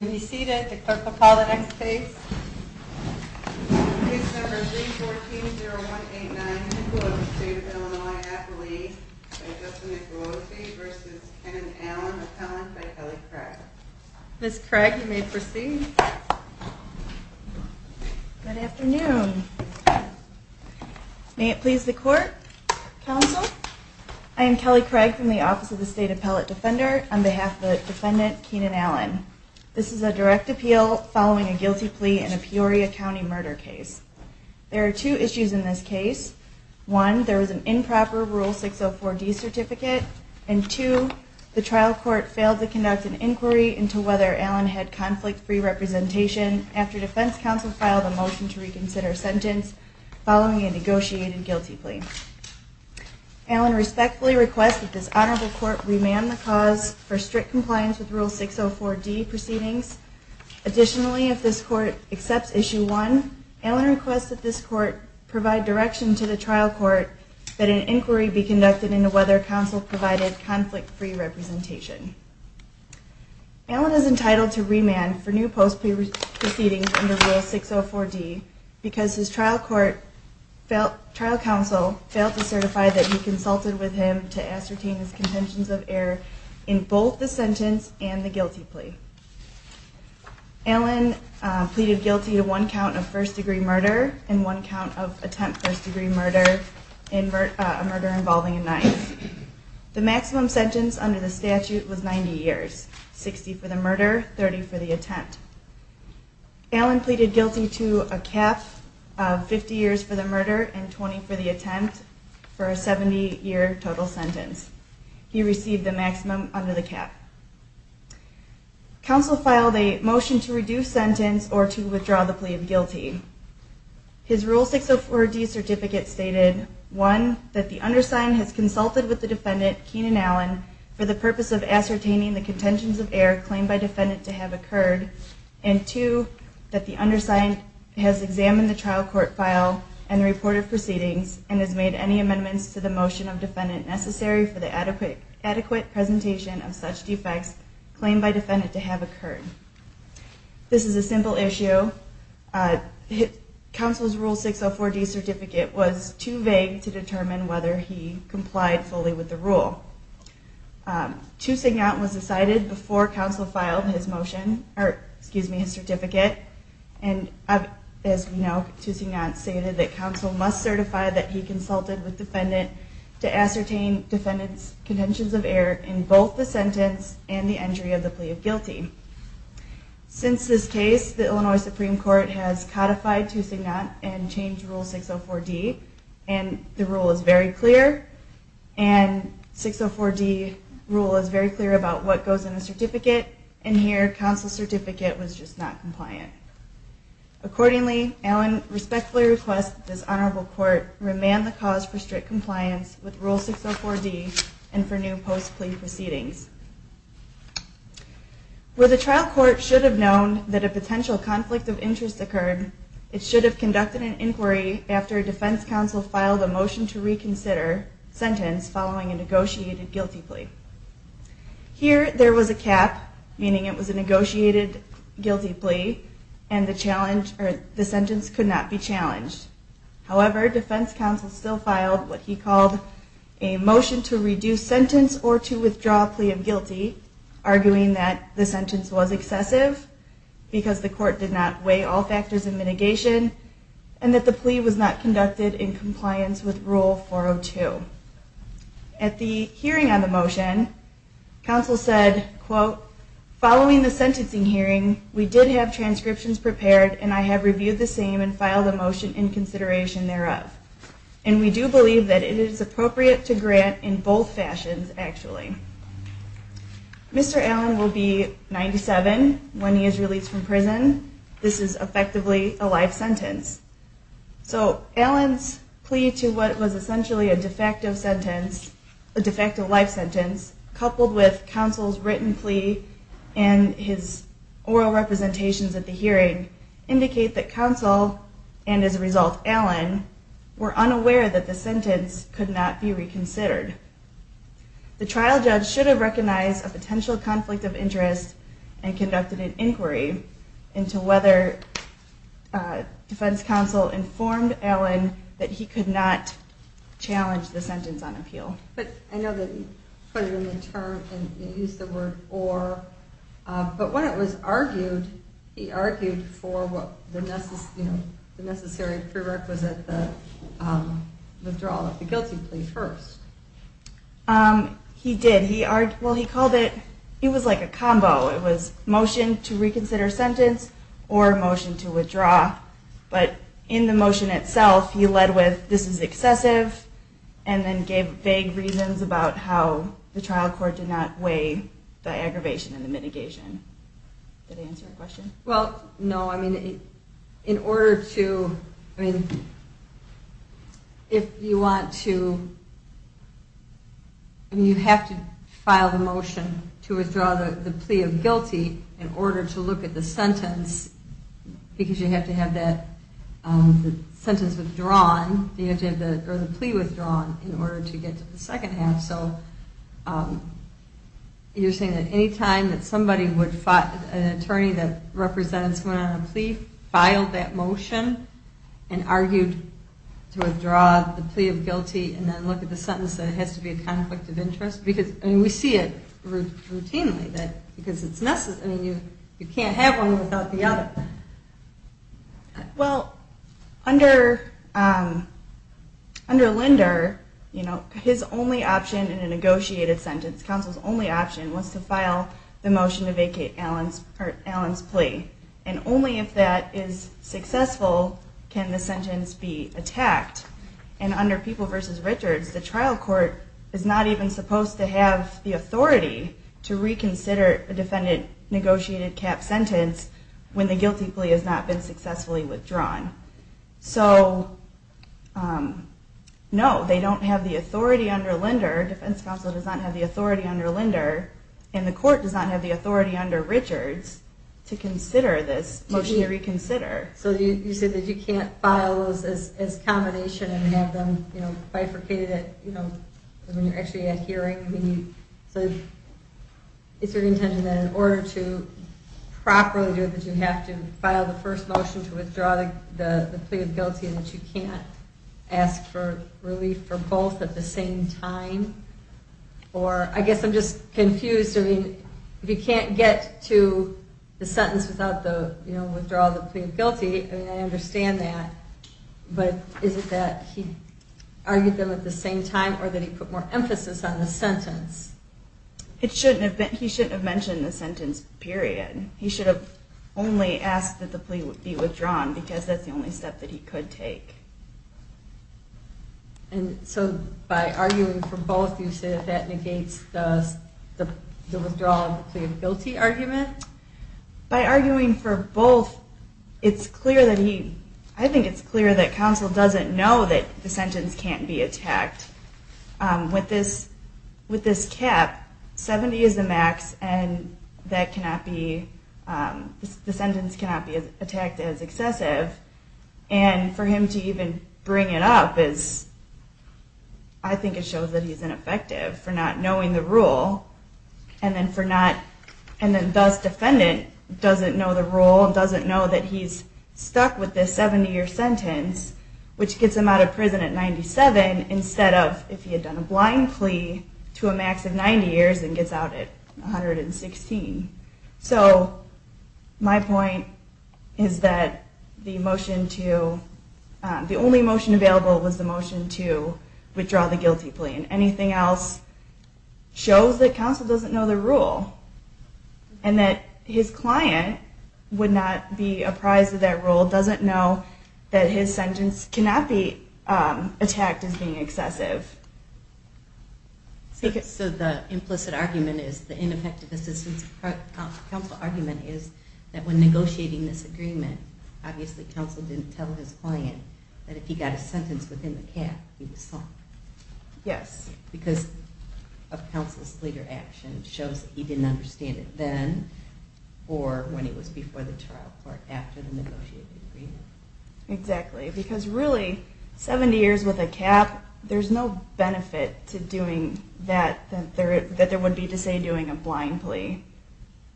Let me see that the clerk will call the next case. Case number 314-0189, Hicklow, State of Illinois, Appalachia, by Justin McLoughlin v. Kenan Allen, appellant by Kelly Craig. Ms. Craig, you may proceed. Good afternoon. May it please the Court, Counsel? I am Kelly Craig from the Office of the State Appellate Defender on behalf of the defendant, Kenan Allen. This is a direct appeal following a guilty plea in a Peoria County murder case. There are two issues in this case. One, there was an improper Rule 604D certificate, and two, the trial court failed to conduct an inquiry into whether Allen had conflict-free representation after defense counsel filed a motion to reconsider sentence following a negotiated guilty plea. Allen respectfully requests that this honorable court remand the cause for strict compliance with Rule 604D proceedings. Additionally, if this court accepts Issue 1, Allen requests that this court provide direction to the trial court that an inquiry be conducted into whether counsel provided conflict-free representation. Allen is entitled to remand for new post-plea proceedings under Rule 604D because his trial counsel failed to certify that he consulted with him to ascertain his contentions of error in both the sentence and the guilty plea. Allen pleaded guilty to one count of first-degree murder and one count of attempt first-degree murder, a murder involving a knife. The maximum sentence under the statute was 90 years, 60 for the murder, 30 for the attempt. Allen pleaded guilty to a cap of 50 years for the murder and 20 for the attempt for a 70-year total sentence. He received the maximum under the cap. Counsel filed a motion to reduce sentence or to withdraw the plea of guilty. His Rule 604D certificate stated, one, that the undersigned has consulted with the defendant, Keenan Allen, for the purpose of ascertaining the contentions of error claimed by defendant to have occurred, and two, that the undersigned has examined the trial court file and reported proceedings and has made any amendments to the motion of defendant necessary for the adequate presentation of such defects claimed by defendant to have occurred. This is a simple issue. Counsel's Rule 604D certificate was too vague to determine whether he complied fully with the rule. Two signat was decided before counsel filed his certificate. And as we know, two signat stated that counsel must certify that he consulted with defendant to ascertain defendant's contentions of error in both the sentence and the entry of the plea of guilty. Since this case, the Illinois Supreme Court has codified two signat and changed Rule 604D and the rule is very clear about what goes in a certificate, and here, counsel's certificate was just not compliant. Accordingly, Allen respectfully requests that this honorable court remand the cause for strict compliance with Rule 604D and for new post-plea proceedings. Where the trial court should have known that a potential conflict of interest occurred, it should have conducted an inquiry after defense counsel filed a motion to reconsider sentence following a negotiated guilty plea. Here, there was a cap, meaning it was a negotiated guilty plea and the sentence could not be challenged. However, defense counsel still filed what he called a motion to reduce sentence or to withdraw plea of guilty, arguing that the sentence was excessive because the court did not weigh all factors of mitigation and that the plea was not conducted in compliance with Rule 402. At the hearing on the motion, counsel said, quote, following the sentencing hearing, we did have transcriptions prepared and I have reviewed the same and filed a motion in consideration thereof, and we do believe that it is appropriate to grant in both fashions, actually. Mr. Allen will be 97 when he is released from prison. This is effectively a life sentence. So, Allen's plea to what was essentially a de facto sentence, a de facto life sentence, coupled with counsel's written plea and his oral representations at the hearing, indicate that counsel, and as a result, Allen, were unaware that the sentence could not be reconsidered. The trial judge should have recognized a potential conflict of interest and conducted an inquiry into whether defense counsel informed Allen that he could not challenge the sentence on appeal. But I know that he put it in the term and used the word or, but when it was argued, he argued for the necessary prerequisite, the withdrawal of the guilty plea first. He did. He argued, well, he called it, it was like a combo. It was motion to reconsider sentence or motion to withdraw, but in the motion itself, he led with this is excessive and then gave vague reasons about how the trial court did not weigh the aggravation and the mitigation. Did I answer your question? If you want to, you have to file the motion to withdraw the plea of guilty in order to look at the sentence because you have to have that sentence withdrawn, you have to have the plea withdrawn in order to get to the second half, so you're saying that any time that somebody would, an attorney that represents one on a plea filed that motion and argued to withdraw the plea of guilty and then look at the sentence, it has to be a conflict of interest? We see it routinely because you can't have one without the other. Well, under Linder, his only option in a negotiated sentence, counsel's only option was to file the motion to vacate Allen's plea and only if that is successful can the sentence be attacked. And under People v. Richards, the trial court is not even supposed to have the authority to reconsider a defendant negotiated cap sentence when the guilty plea has not been successfully withdrawn. So, no, they don't have the authority under Linder, defense counsel does not have the authority under Linder, and the court does not have the authority under Richards to consider this motion to reconsider. So you say that you can't file those as combination and have them bifurcated when you're actually at hearing. Is there an intention that in order to properly do it that you have to file the first motion to withdraw the plea of guilty and that you can't ask for relief for both at the same time? Or, I guess I'm just confused, I mean, if you can't get to the sentence without the withdrawal of the plea of guilty, I understand that, but is it that he argued them at the same time or that he put more emphasis on the sentence? He shouldn't have mentioned the sentence, period. He should have only asked that the plea be withdrawn because that's the only step that he could take. And so by arguing for both, you say that negates the withdrawal of the plea of guilty argument? By arguing for both, it's clear that he, I think it's clear that counsel doesn't know that the sentence can't be attacked. With this cap, 70 is the max and that cannot be, the sentence cannot be attacked as excessive, and for him to even bring it up is, I think it shows that he's ineffective for not knowing the rule, and then thus defendant doesn't know the rule, doesn't know that he's stuck with this 70-year sentence, which gets him out of prison at 97 instead of if he had done a blind plea to a max of 90 years and gets out at 116. So my point is that the motion to, the only motion available was the motion to withdraw the guilty plea, and anything else shows that counsel doesn't know the rule and that his client would not be apprised of that rule, doesn't know that his sentence cannot be attacked as being excessive. So the implicit argument is, the ineffective assistance counsel argument is that when negotiating this agreement, obviously counsel didn't tell his client that if he got a sentence within the cap, he was stuck. Yes. Because of counsel's later action, it shows that he didn't understand it then or when he was before the trial court after the negotiated agreement. Exactly, because really, 70 years with a cap, there's no benefit to doing that, that there would be to say doing a blind plea,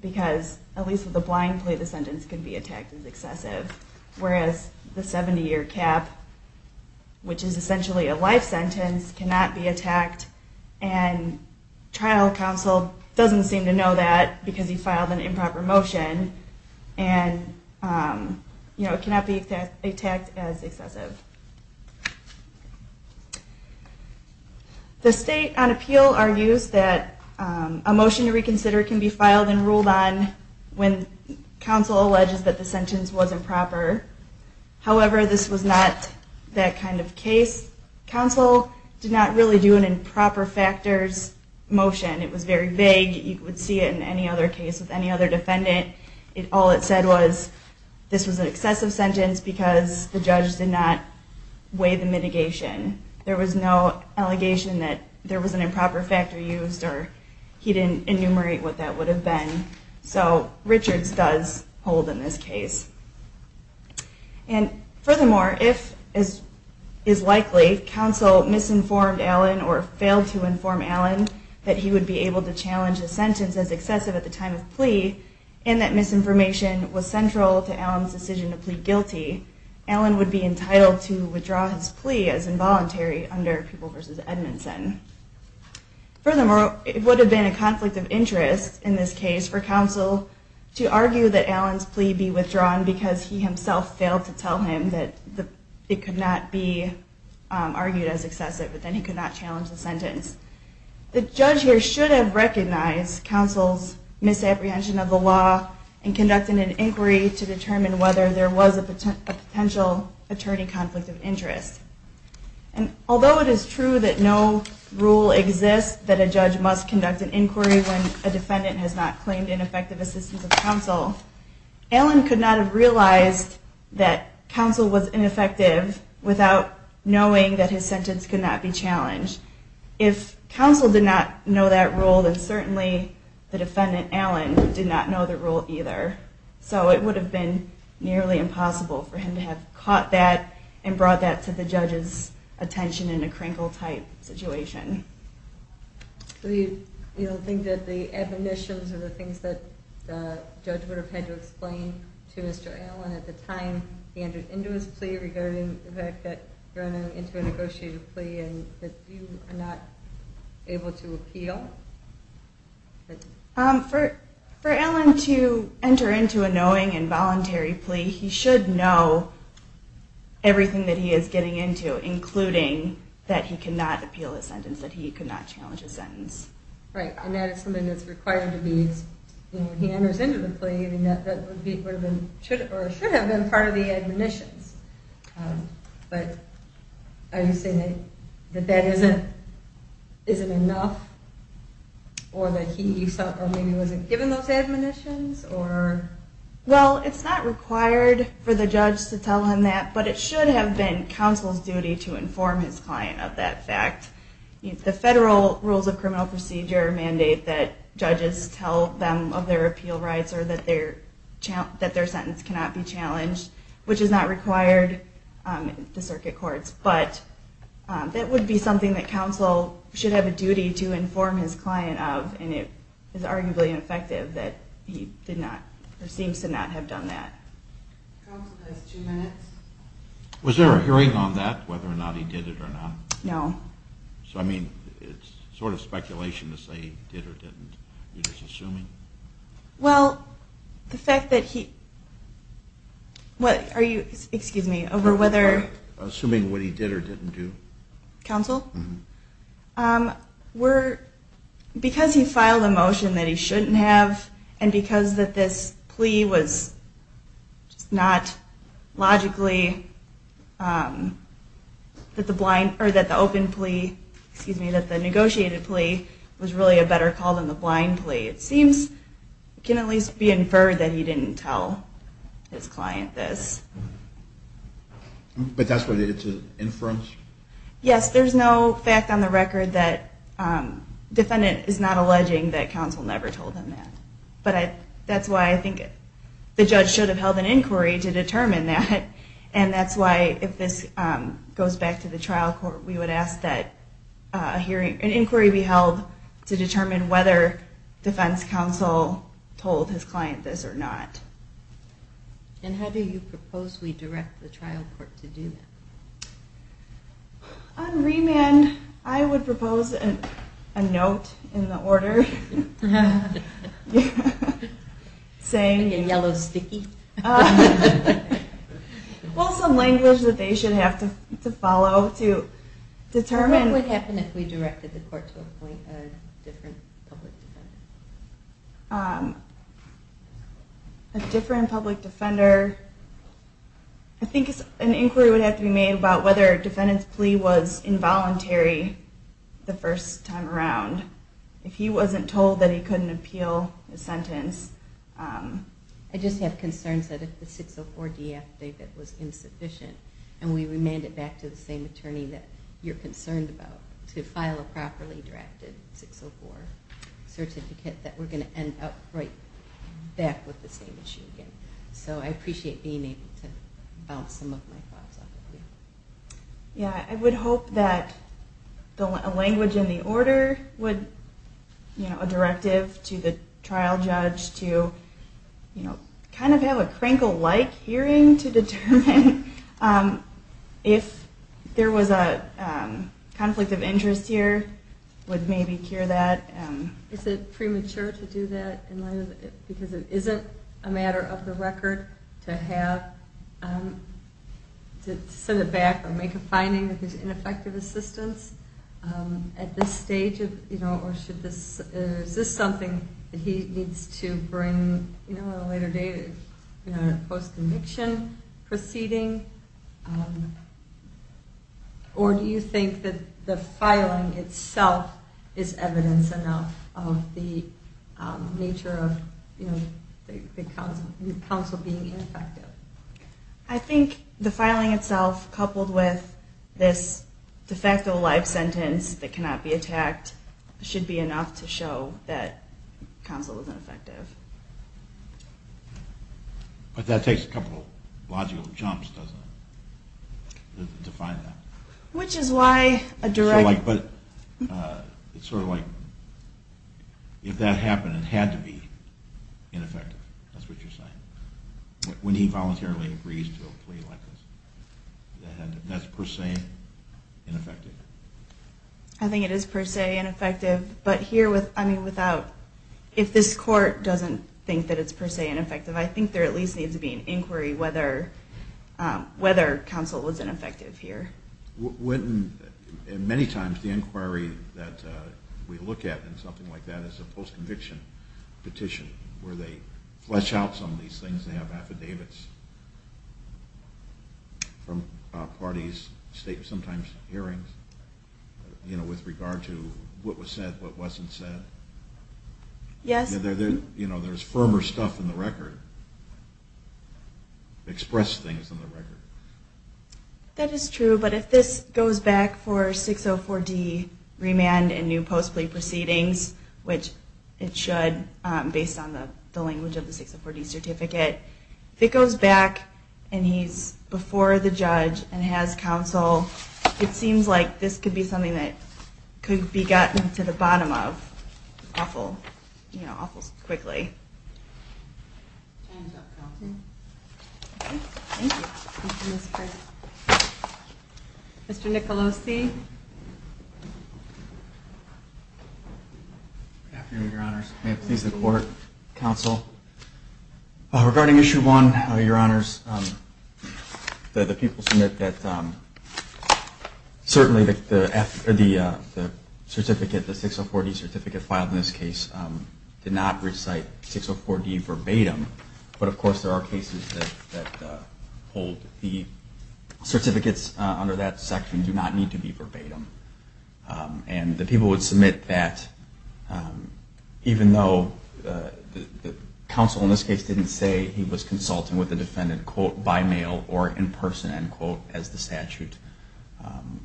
because at least with a blind plea the sentence can be attacked as excessive, whereas the 70 year cap, which is essentially a life sentence, cannot be attacked and trial counsel doesn't seem to know that because he filed an improper motion and it cannot be attacked as excessive. The state on appeal argues that a motion to reconsider can be filed and ruled on when counsel alleges that the sentence was improper. However, this was not that kind of case. Counsel did not really do an improper factors motion. It was very vague. You would see it in any other case with any other defendant. All it said was this was an excessive sentence because the judge did not weigh the mitigation. There was no allegation that there was an improper factor used or he didn't enumerate what that would have been. So Richards does hold in this case. And furthermore, if as is likely, counsel misinformed Allen or failed to inform Allen that he would be able to challenge a sentence as excessive at the time of plea and that misinformation was central to Allen's decision to plead guilty, Allen would be entitled to withdraw his plea as involuntary under Pupil v. Edmondson. Furthermore, it would have been a conflict of interest in this case for counsel to argue that Allen's plea be withdrawn because he himself failed to tell him that it could not be argued as excessive but then he could not challenge the sentence. The judge here should have recognized counsel's misapprehension of the law and conducted an inquiry to determine whether there was a potential attorney conflict of interest. And although it is true that no rule exists that a judge must conduct an inquiry when a defendant has not claimed ineffective assistance of counsel, Allen could not have realized that counsel was ineffective without knowing that his sentence could not be challenged. If counsel did not know that rule, then certainly the defendant, Allen, did not know the rule either. So it would have been nearly impossible for him to have caught that and brought that to the judge's attention in a crinkle-type situation. You don't think that the admonitions or the things that the judge would have had to explain to Mr. Allen at the time he entered into his plea regarding the fact that you're entering into a negotiated plea and that you are not able to appeal? For Allen to enter into a knowing and voluntary plea, he should know everything that he is getting into, including that he could not appeal a sentence, that he could not challenge a sentence. Right, and that is something that is required to be, you know, when he enters into the plea, that should have been part of the admonitions. But are you saying that that isn't enough or maybe he wasn't given those admonitions? Well, it's not required for the judge to tell him that, but it should have been counsel's duty to inform his client of that fact. The Federal Rules of Criminal Procedure mandate that judges tell them of their appeal rights or that their sentence cannot be challenged, which is not required in the circuit courts, but that would be something that counsel should have a duty to inform his client of, and it is arguably ineffective that he did not or seems to not have done that. Was there a hearing on that, whether or not he did it or not? No. So, I mean, it's sort of speculation to say he did or didn't. You're just assuming? Well, the fact that he... Excuse me, over whether... Assuming what he did or didn't do. Counsel? Because he filed a motion that he shouldn't have and because this plea was not logically that the open plea, excuse me, that the negotiated plea was really a better call than the blind plea. It seems it can at least be inferred that he didn't tell his client this. But that's what it's an inference? Yes, there's no fact on the record that the defendant is not alleging that counsel never told him that. But that's why I think the judge should have held an inquiry and that's why if this goes back to the trial court we would ask that an inquiry be held to determine whether defense counsel told his client this or not. And how do you propose we direct the trial court to do that? On remand, I would propose a note in the order. Saying... In yellow sticky? Well, some language that they should have to follow to determine... What would happen if we directed the court to appoint a different public defender? A different public defender... I think an inquiry would have to be made about whether a defendant's plea was involuntary the first time around. If he wasn't told that he couldn't appeal his sentence. If the 604D affidavit was insufficient and we remand it back to the same attorney that you're concerned about to file a properly drafted 604 certificate that we're going to end up right back with the same issue again. So I appreciate being able to bounce some of my thoughts off of you. Yeah, I would hope that a language in the order would... you know, a directive to the trial judge to kind of have a Krinkle-like hearing to determine if there was a conflict of interest here would maybe cure that. Is it premature to do that? Because it isn't a matter of the record to have... to send it back or make a finding of his ineffective assistance at this stage of... Is this something that he needs to bring at a later date in a post-conviction proceeding? Or do you think that the filing itself is evidence enough of the nature of the counsel being ineffective? I think the filing itself, coupled with this de facto life sentence that cannot be attacked should be enough to show that counsel is ineffective. But that takes a couple of logical jumps, doesn't it? To define that. Which is why a direct... It's sort of like, if that happened, it had to be ineffective. That's what you're saying. When he voluntarily agrees to a plea like this. That's per se ineffective. I think it is per se ineffective. But here, without... If this court doesn't think that it's per se ineffective, I think there at least needs to be an inquiry whether counsel was ineffective here. Many times the inquiry that we look at in something like that is a post-conviction petition where they flesh out some of these things. They have affidavits and parties, sometimes hearings, with regard to what was said, what wasn't said. Yes. There's firmer stuff in the record. Expressed things in the record. That is true, but if this goes back for 604D remand and new post-plea proceedings, which it should based on the language of the 604D certificate, if it goes back and he's before the judge and has counsel, it seems like this could be something that could be gotten to the bottom of awful quickly. Mr. Nicolosi? Good afternoon, Your Honors. May it please the court, counsel, regarding issue one, Your Honors, the people submit that certainly the 604D certificate filed in this case did not recite 604D verbatim, but of course there are cases that hold the certificates under that section do not need to be verbatim. And the people would submit that even though the counsel in this case didn't say he was consulting with the defendant quote, by mail or in person, end quote, as the statute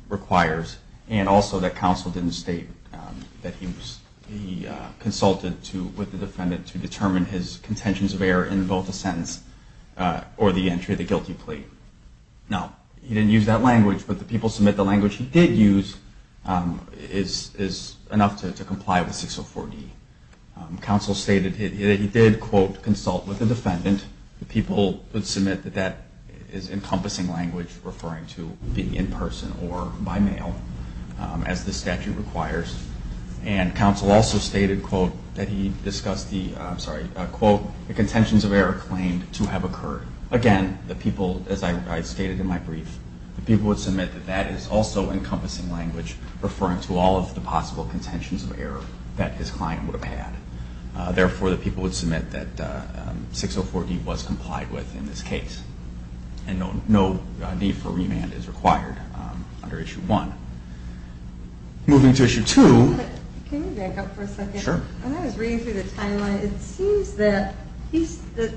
requires, and also that counsel didn't state that he consulted with the defendant to determine his contentions of error in both the sentence or the entry of the guilty plea. Now, he didn't use that language, but the people submit the language he did use to determine his contentions of error in both the sentence or the entry of the guilty plea. Counsel stated that he did, quote, consult with the defendant. The people would submit that that is encompassing language referring to being in person or by mail, as the statute requires. And counsel also stated, quote, that he discussed the, I'm sorry, that the defendant would have had. Therefore, the people would submit that 604D was complied with in this case. And no need for remand is required under Issue 1. Moving to Issue 2. Can you back up for a second? Sure. When I was reading through the timeline, it seems that the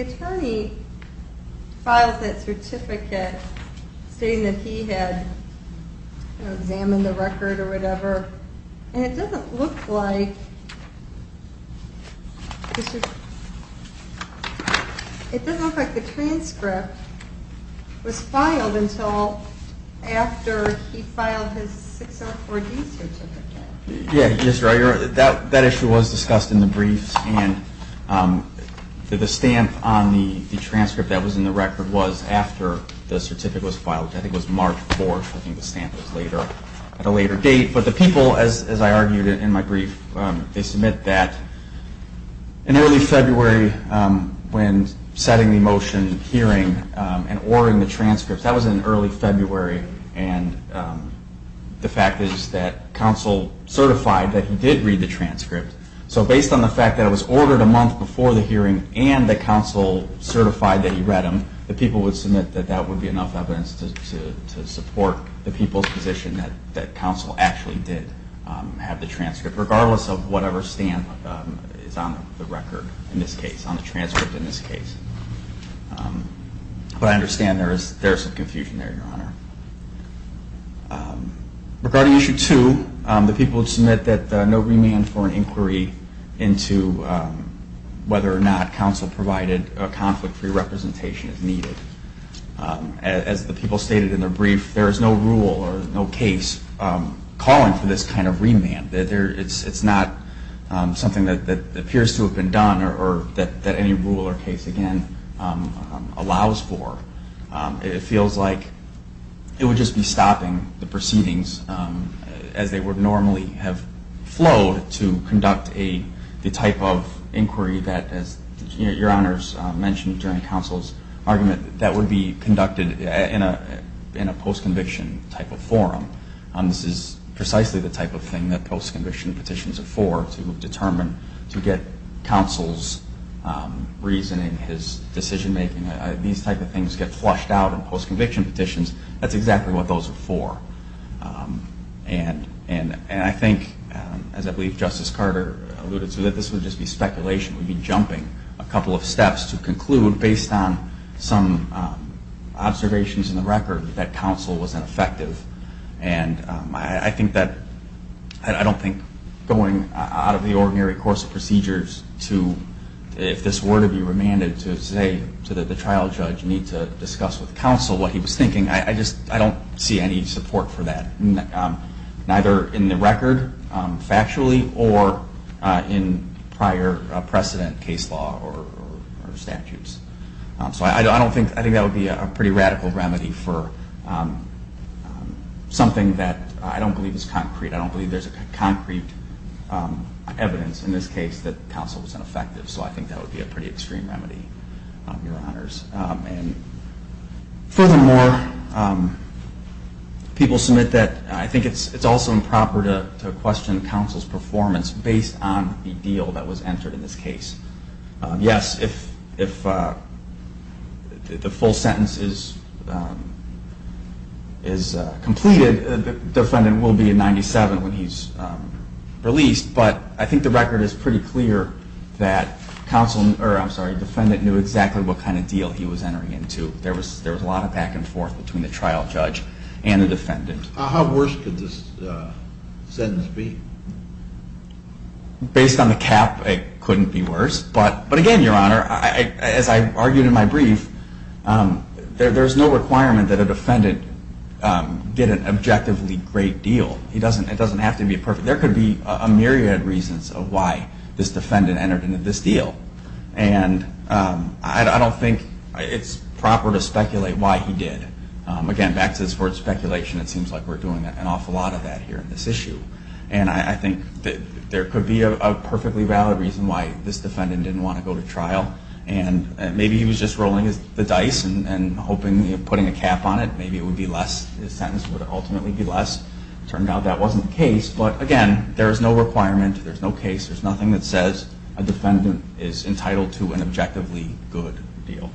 attorney filed that certificate stating that he had examined the record or whatever, but it doesn't look like the transcript was filed until after he filed his 604D certificate. Yeah, that issue was discussed in the briefs, and the stamp on the transcript that was in the record was after the certificate was filed. I think it was March 4th. I think the stamp was at a later date. But the people, as I argued in my brief, would submit that in early February when setting the motion, hearing, and ordering the transcript, that was in early February, and the fact is that counsel certified that he did read the transcript. So based on the fact that it was ordered a month before the hearing and that counsel certified that he read them, the people would submit that the stamp is on the record in this case, on the transcript in this case. But I understand there is some confusion there, Your Honor. Regarding Issue 2, the people would submit that no remand for an inquiry into whether or not counsel provided a conflict-free representation is needed. As the people stated in their brief, there is no rule or no case calling for this kind of remand. This is something that appears to have been done or that any rule or case, again, allows for. It feels like it would just be stopping the proceedings as they would normally have flowed to conduct the type of inquiry that, as Your Honors mentioned during counsel's argument, that would be conducted in a post-conviction type of forum. This is precisely the type of thing that counsel is determined to get counsel's reasoning, his decision-making. These type of things get flushed out in post-conviction petitions. That's exactly what those are for. And I think, as I believe Justice Carter alluded to, that this would just be speculation. We'd be jumping a couple of steps to conclude based on some observations in the record that counsel was ineffective. I don't see a primary course of procedures to, if this were to be remanded, to say that the trial judge need to discuss with counsel what he was thinking. I don't see any support for that, neither in the record, factually, or in prior precedent case law or statutes. I think that would be a pretty radical remedy for something that I don't believe is concrete. I don't believe there's a concrete evidence in this case that counsel was ineffective, so I think that would be a pretty extreme remedy, Your Honors. Furthermore, people submit that I think it's also improper to question counsel's performance based on the deal that was entered in this case. Yes, if the full sentence is completed, but I think the record is that the defendant knew exactly what kind of deal he was entering into. There was a lot of back and forth between the trial judge and the defendant. How worse could this sentence be? Based on the cap, it couldn't be worse. But again, Your Honor, as I argued in my brief, there's no requirement that a defendant get an objectively great deal. It doesn't have to be perfect. It doesn't have to be perfect. I don't think it's proper to speculate why he did. Again, back to this word speculation, it seems like we're doing an awful lot of that here in this issue. I think there could be a perfectly valid reason why this defendant didn't want to go to trial. Maybe he was just rolling the dice and putting a cap on it. Maybe his sentence would ultimately be less. But this is something that says a defendant is entitled to an objectively good deal.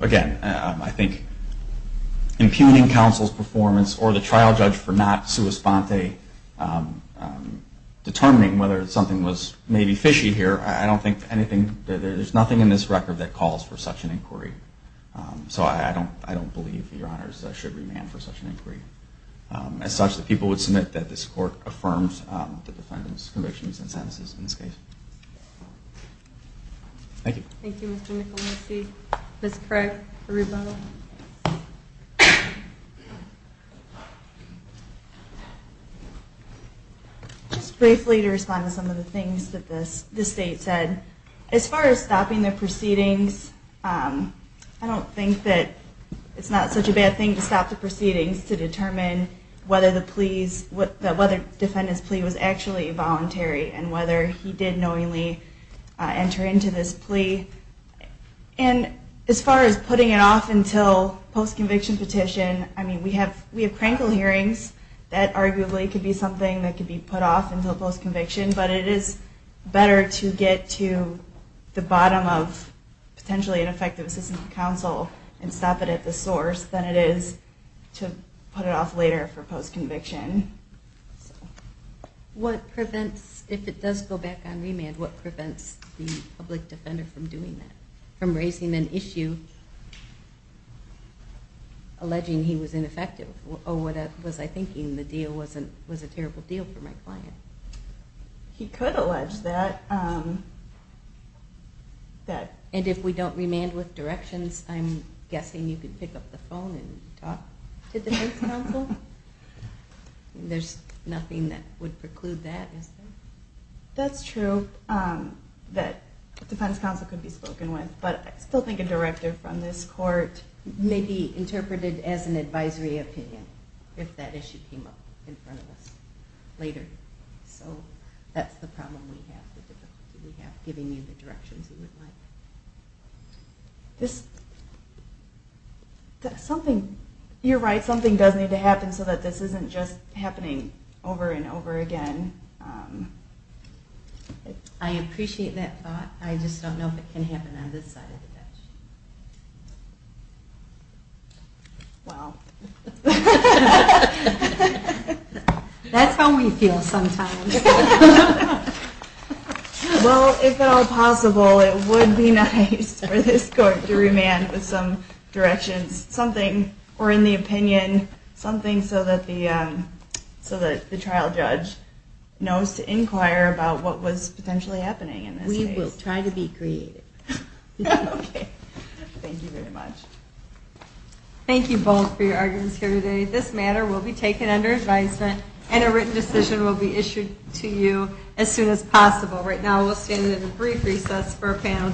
Again, I think impugning counsel's performance or the trial judge for not sua sponte determining whether something was maybe fishy here, I don't think anything, there's nothing in this record that calls for such an inquiry. So I don't believe Your Honors should remand for such an inquiry. I don't think it's appropriate to do that in this case. Thank you. Thank you, Mr. Nicoletti. Ms. Craig, the rebuttal. Just briefly to respond to some of the things that the State said. As far as stopping the proceedings, I don't think that it's not such a bad thing to stop the proceedings to determine whether he did knowingly enter into this plea. And as far as putting it off until post-conviction petition, I mean, we have crankle hearings that arguably could be something that could be put off until post-conviction, but it is better to get to the bottom of potentially ineffective assistance to counsel and stop it at the source than it is to put it off later for post-conviction. If we go back on remand, what prevents the public defender from doing that, from raising an issue alleging he was ineffective? Or was I thinking the deal was a terrible deal for my client? He could allege that. And if we don't remand with directions, I'm guessing you could pick up the phone and talk to defense counsel? That's true, that defense counsel could be spoken with, but I still think a director from this court may be interpreted as an advisory opinion if that issue came up in front of us later. So that's the problem we have, the difficulty we have, giving you the directions you would like. You're right, something does need to happen so that this isn't just happening on this side of the bench. I appreciate that thought, I just don't know if it can happen on this side of the bench. Wow. That's how we feel sometimes. Well, if at all possible, it would be nice for this court to remand with some directions, something, or in the opinion, something that is potentially happening. We will try to be creative. Thank you very much. Thank you both for your arguments here today. This matter will be taken under advisement and a written decision will be issued to you as soon as possible. Right now we'll stand at a brief recess for a panel change.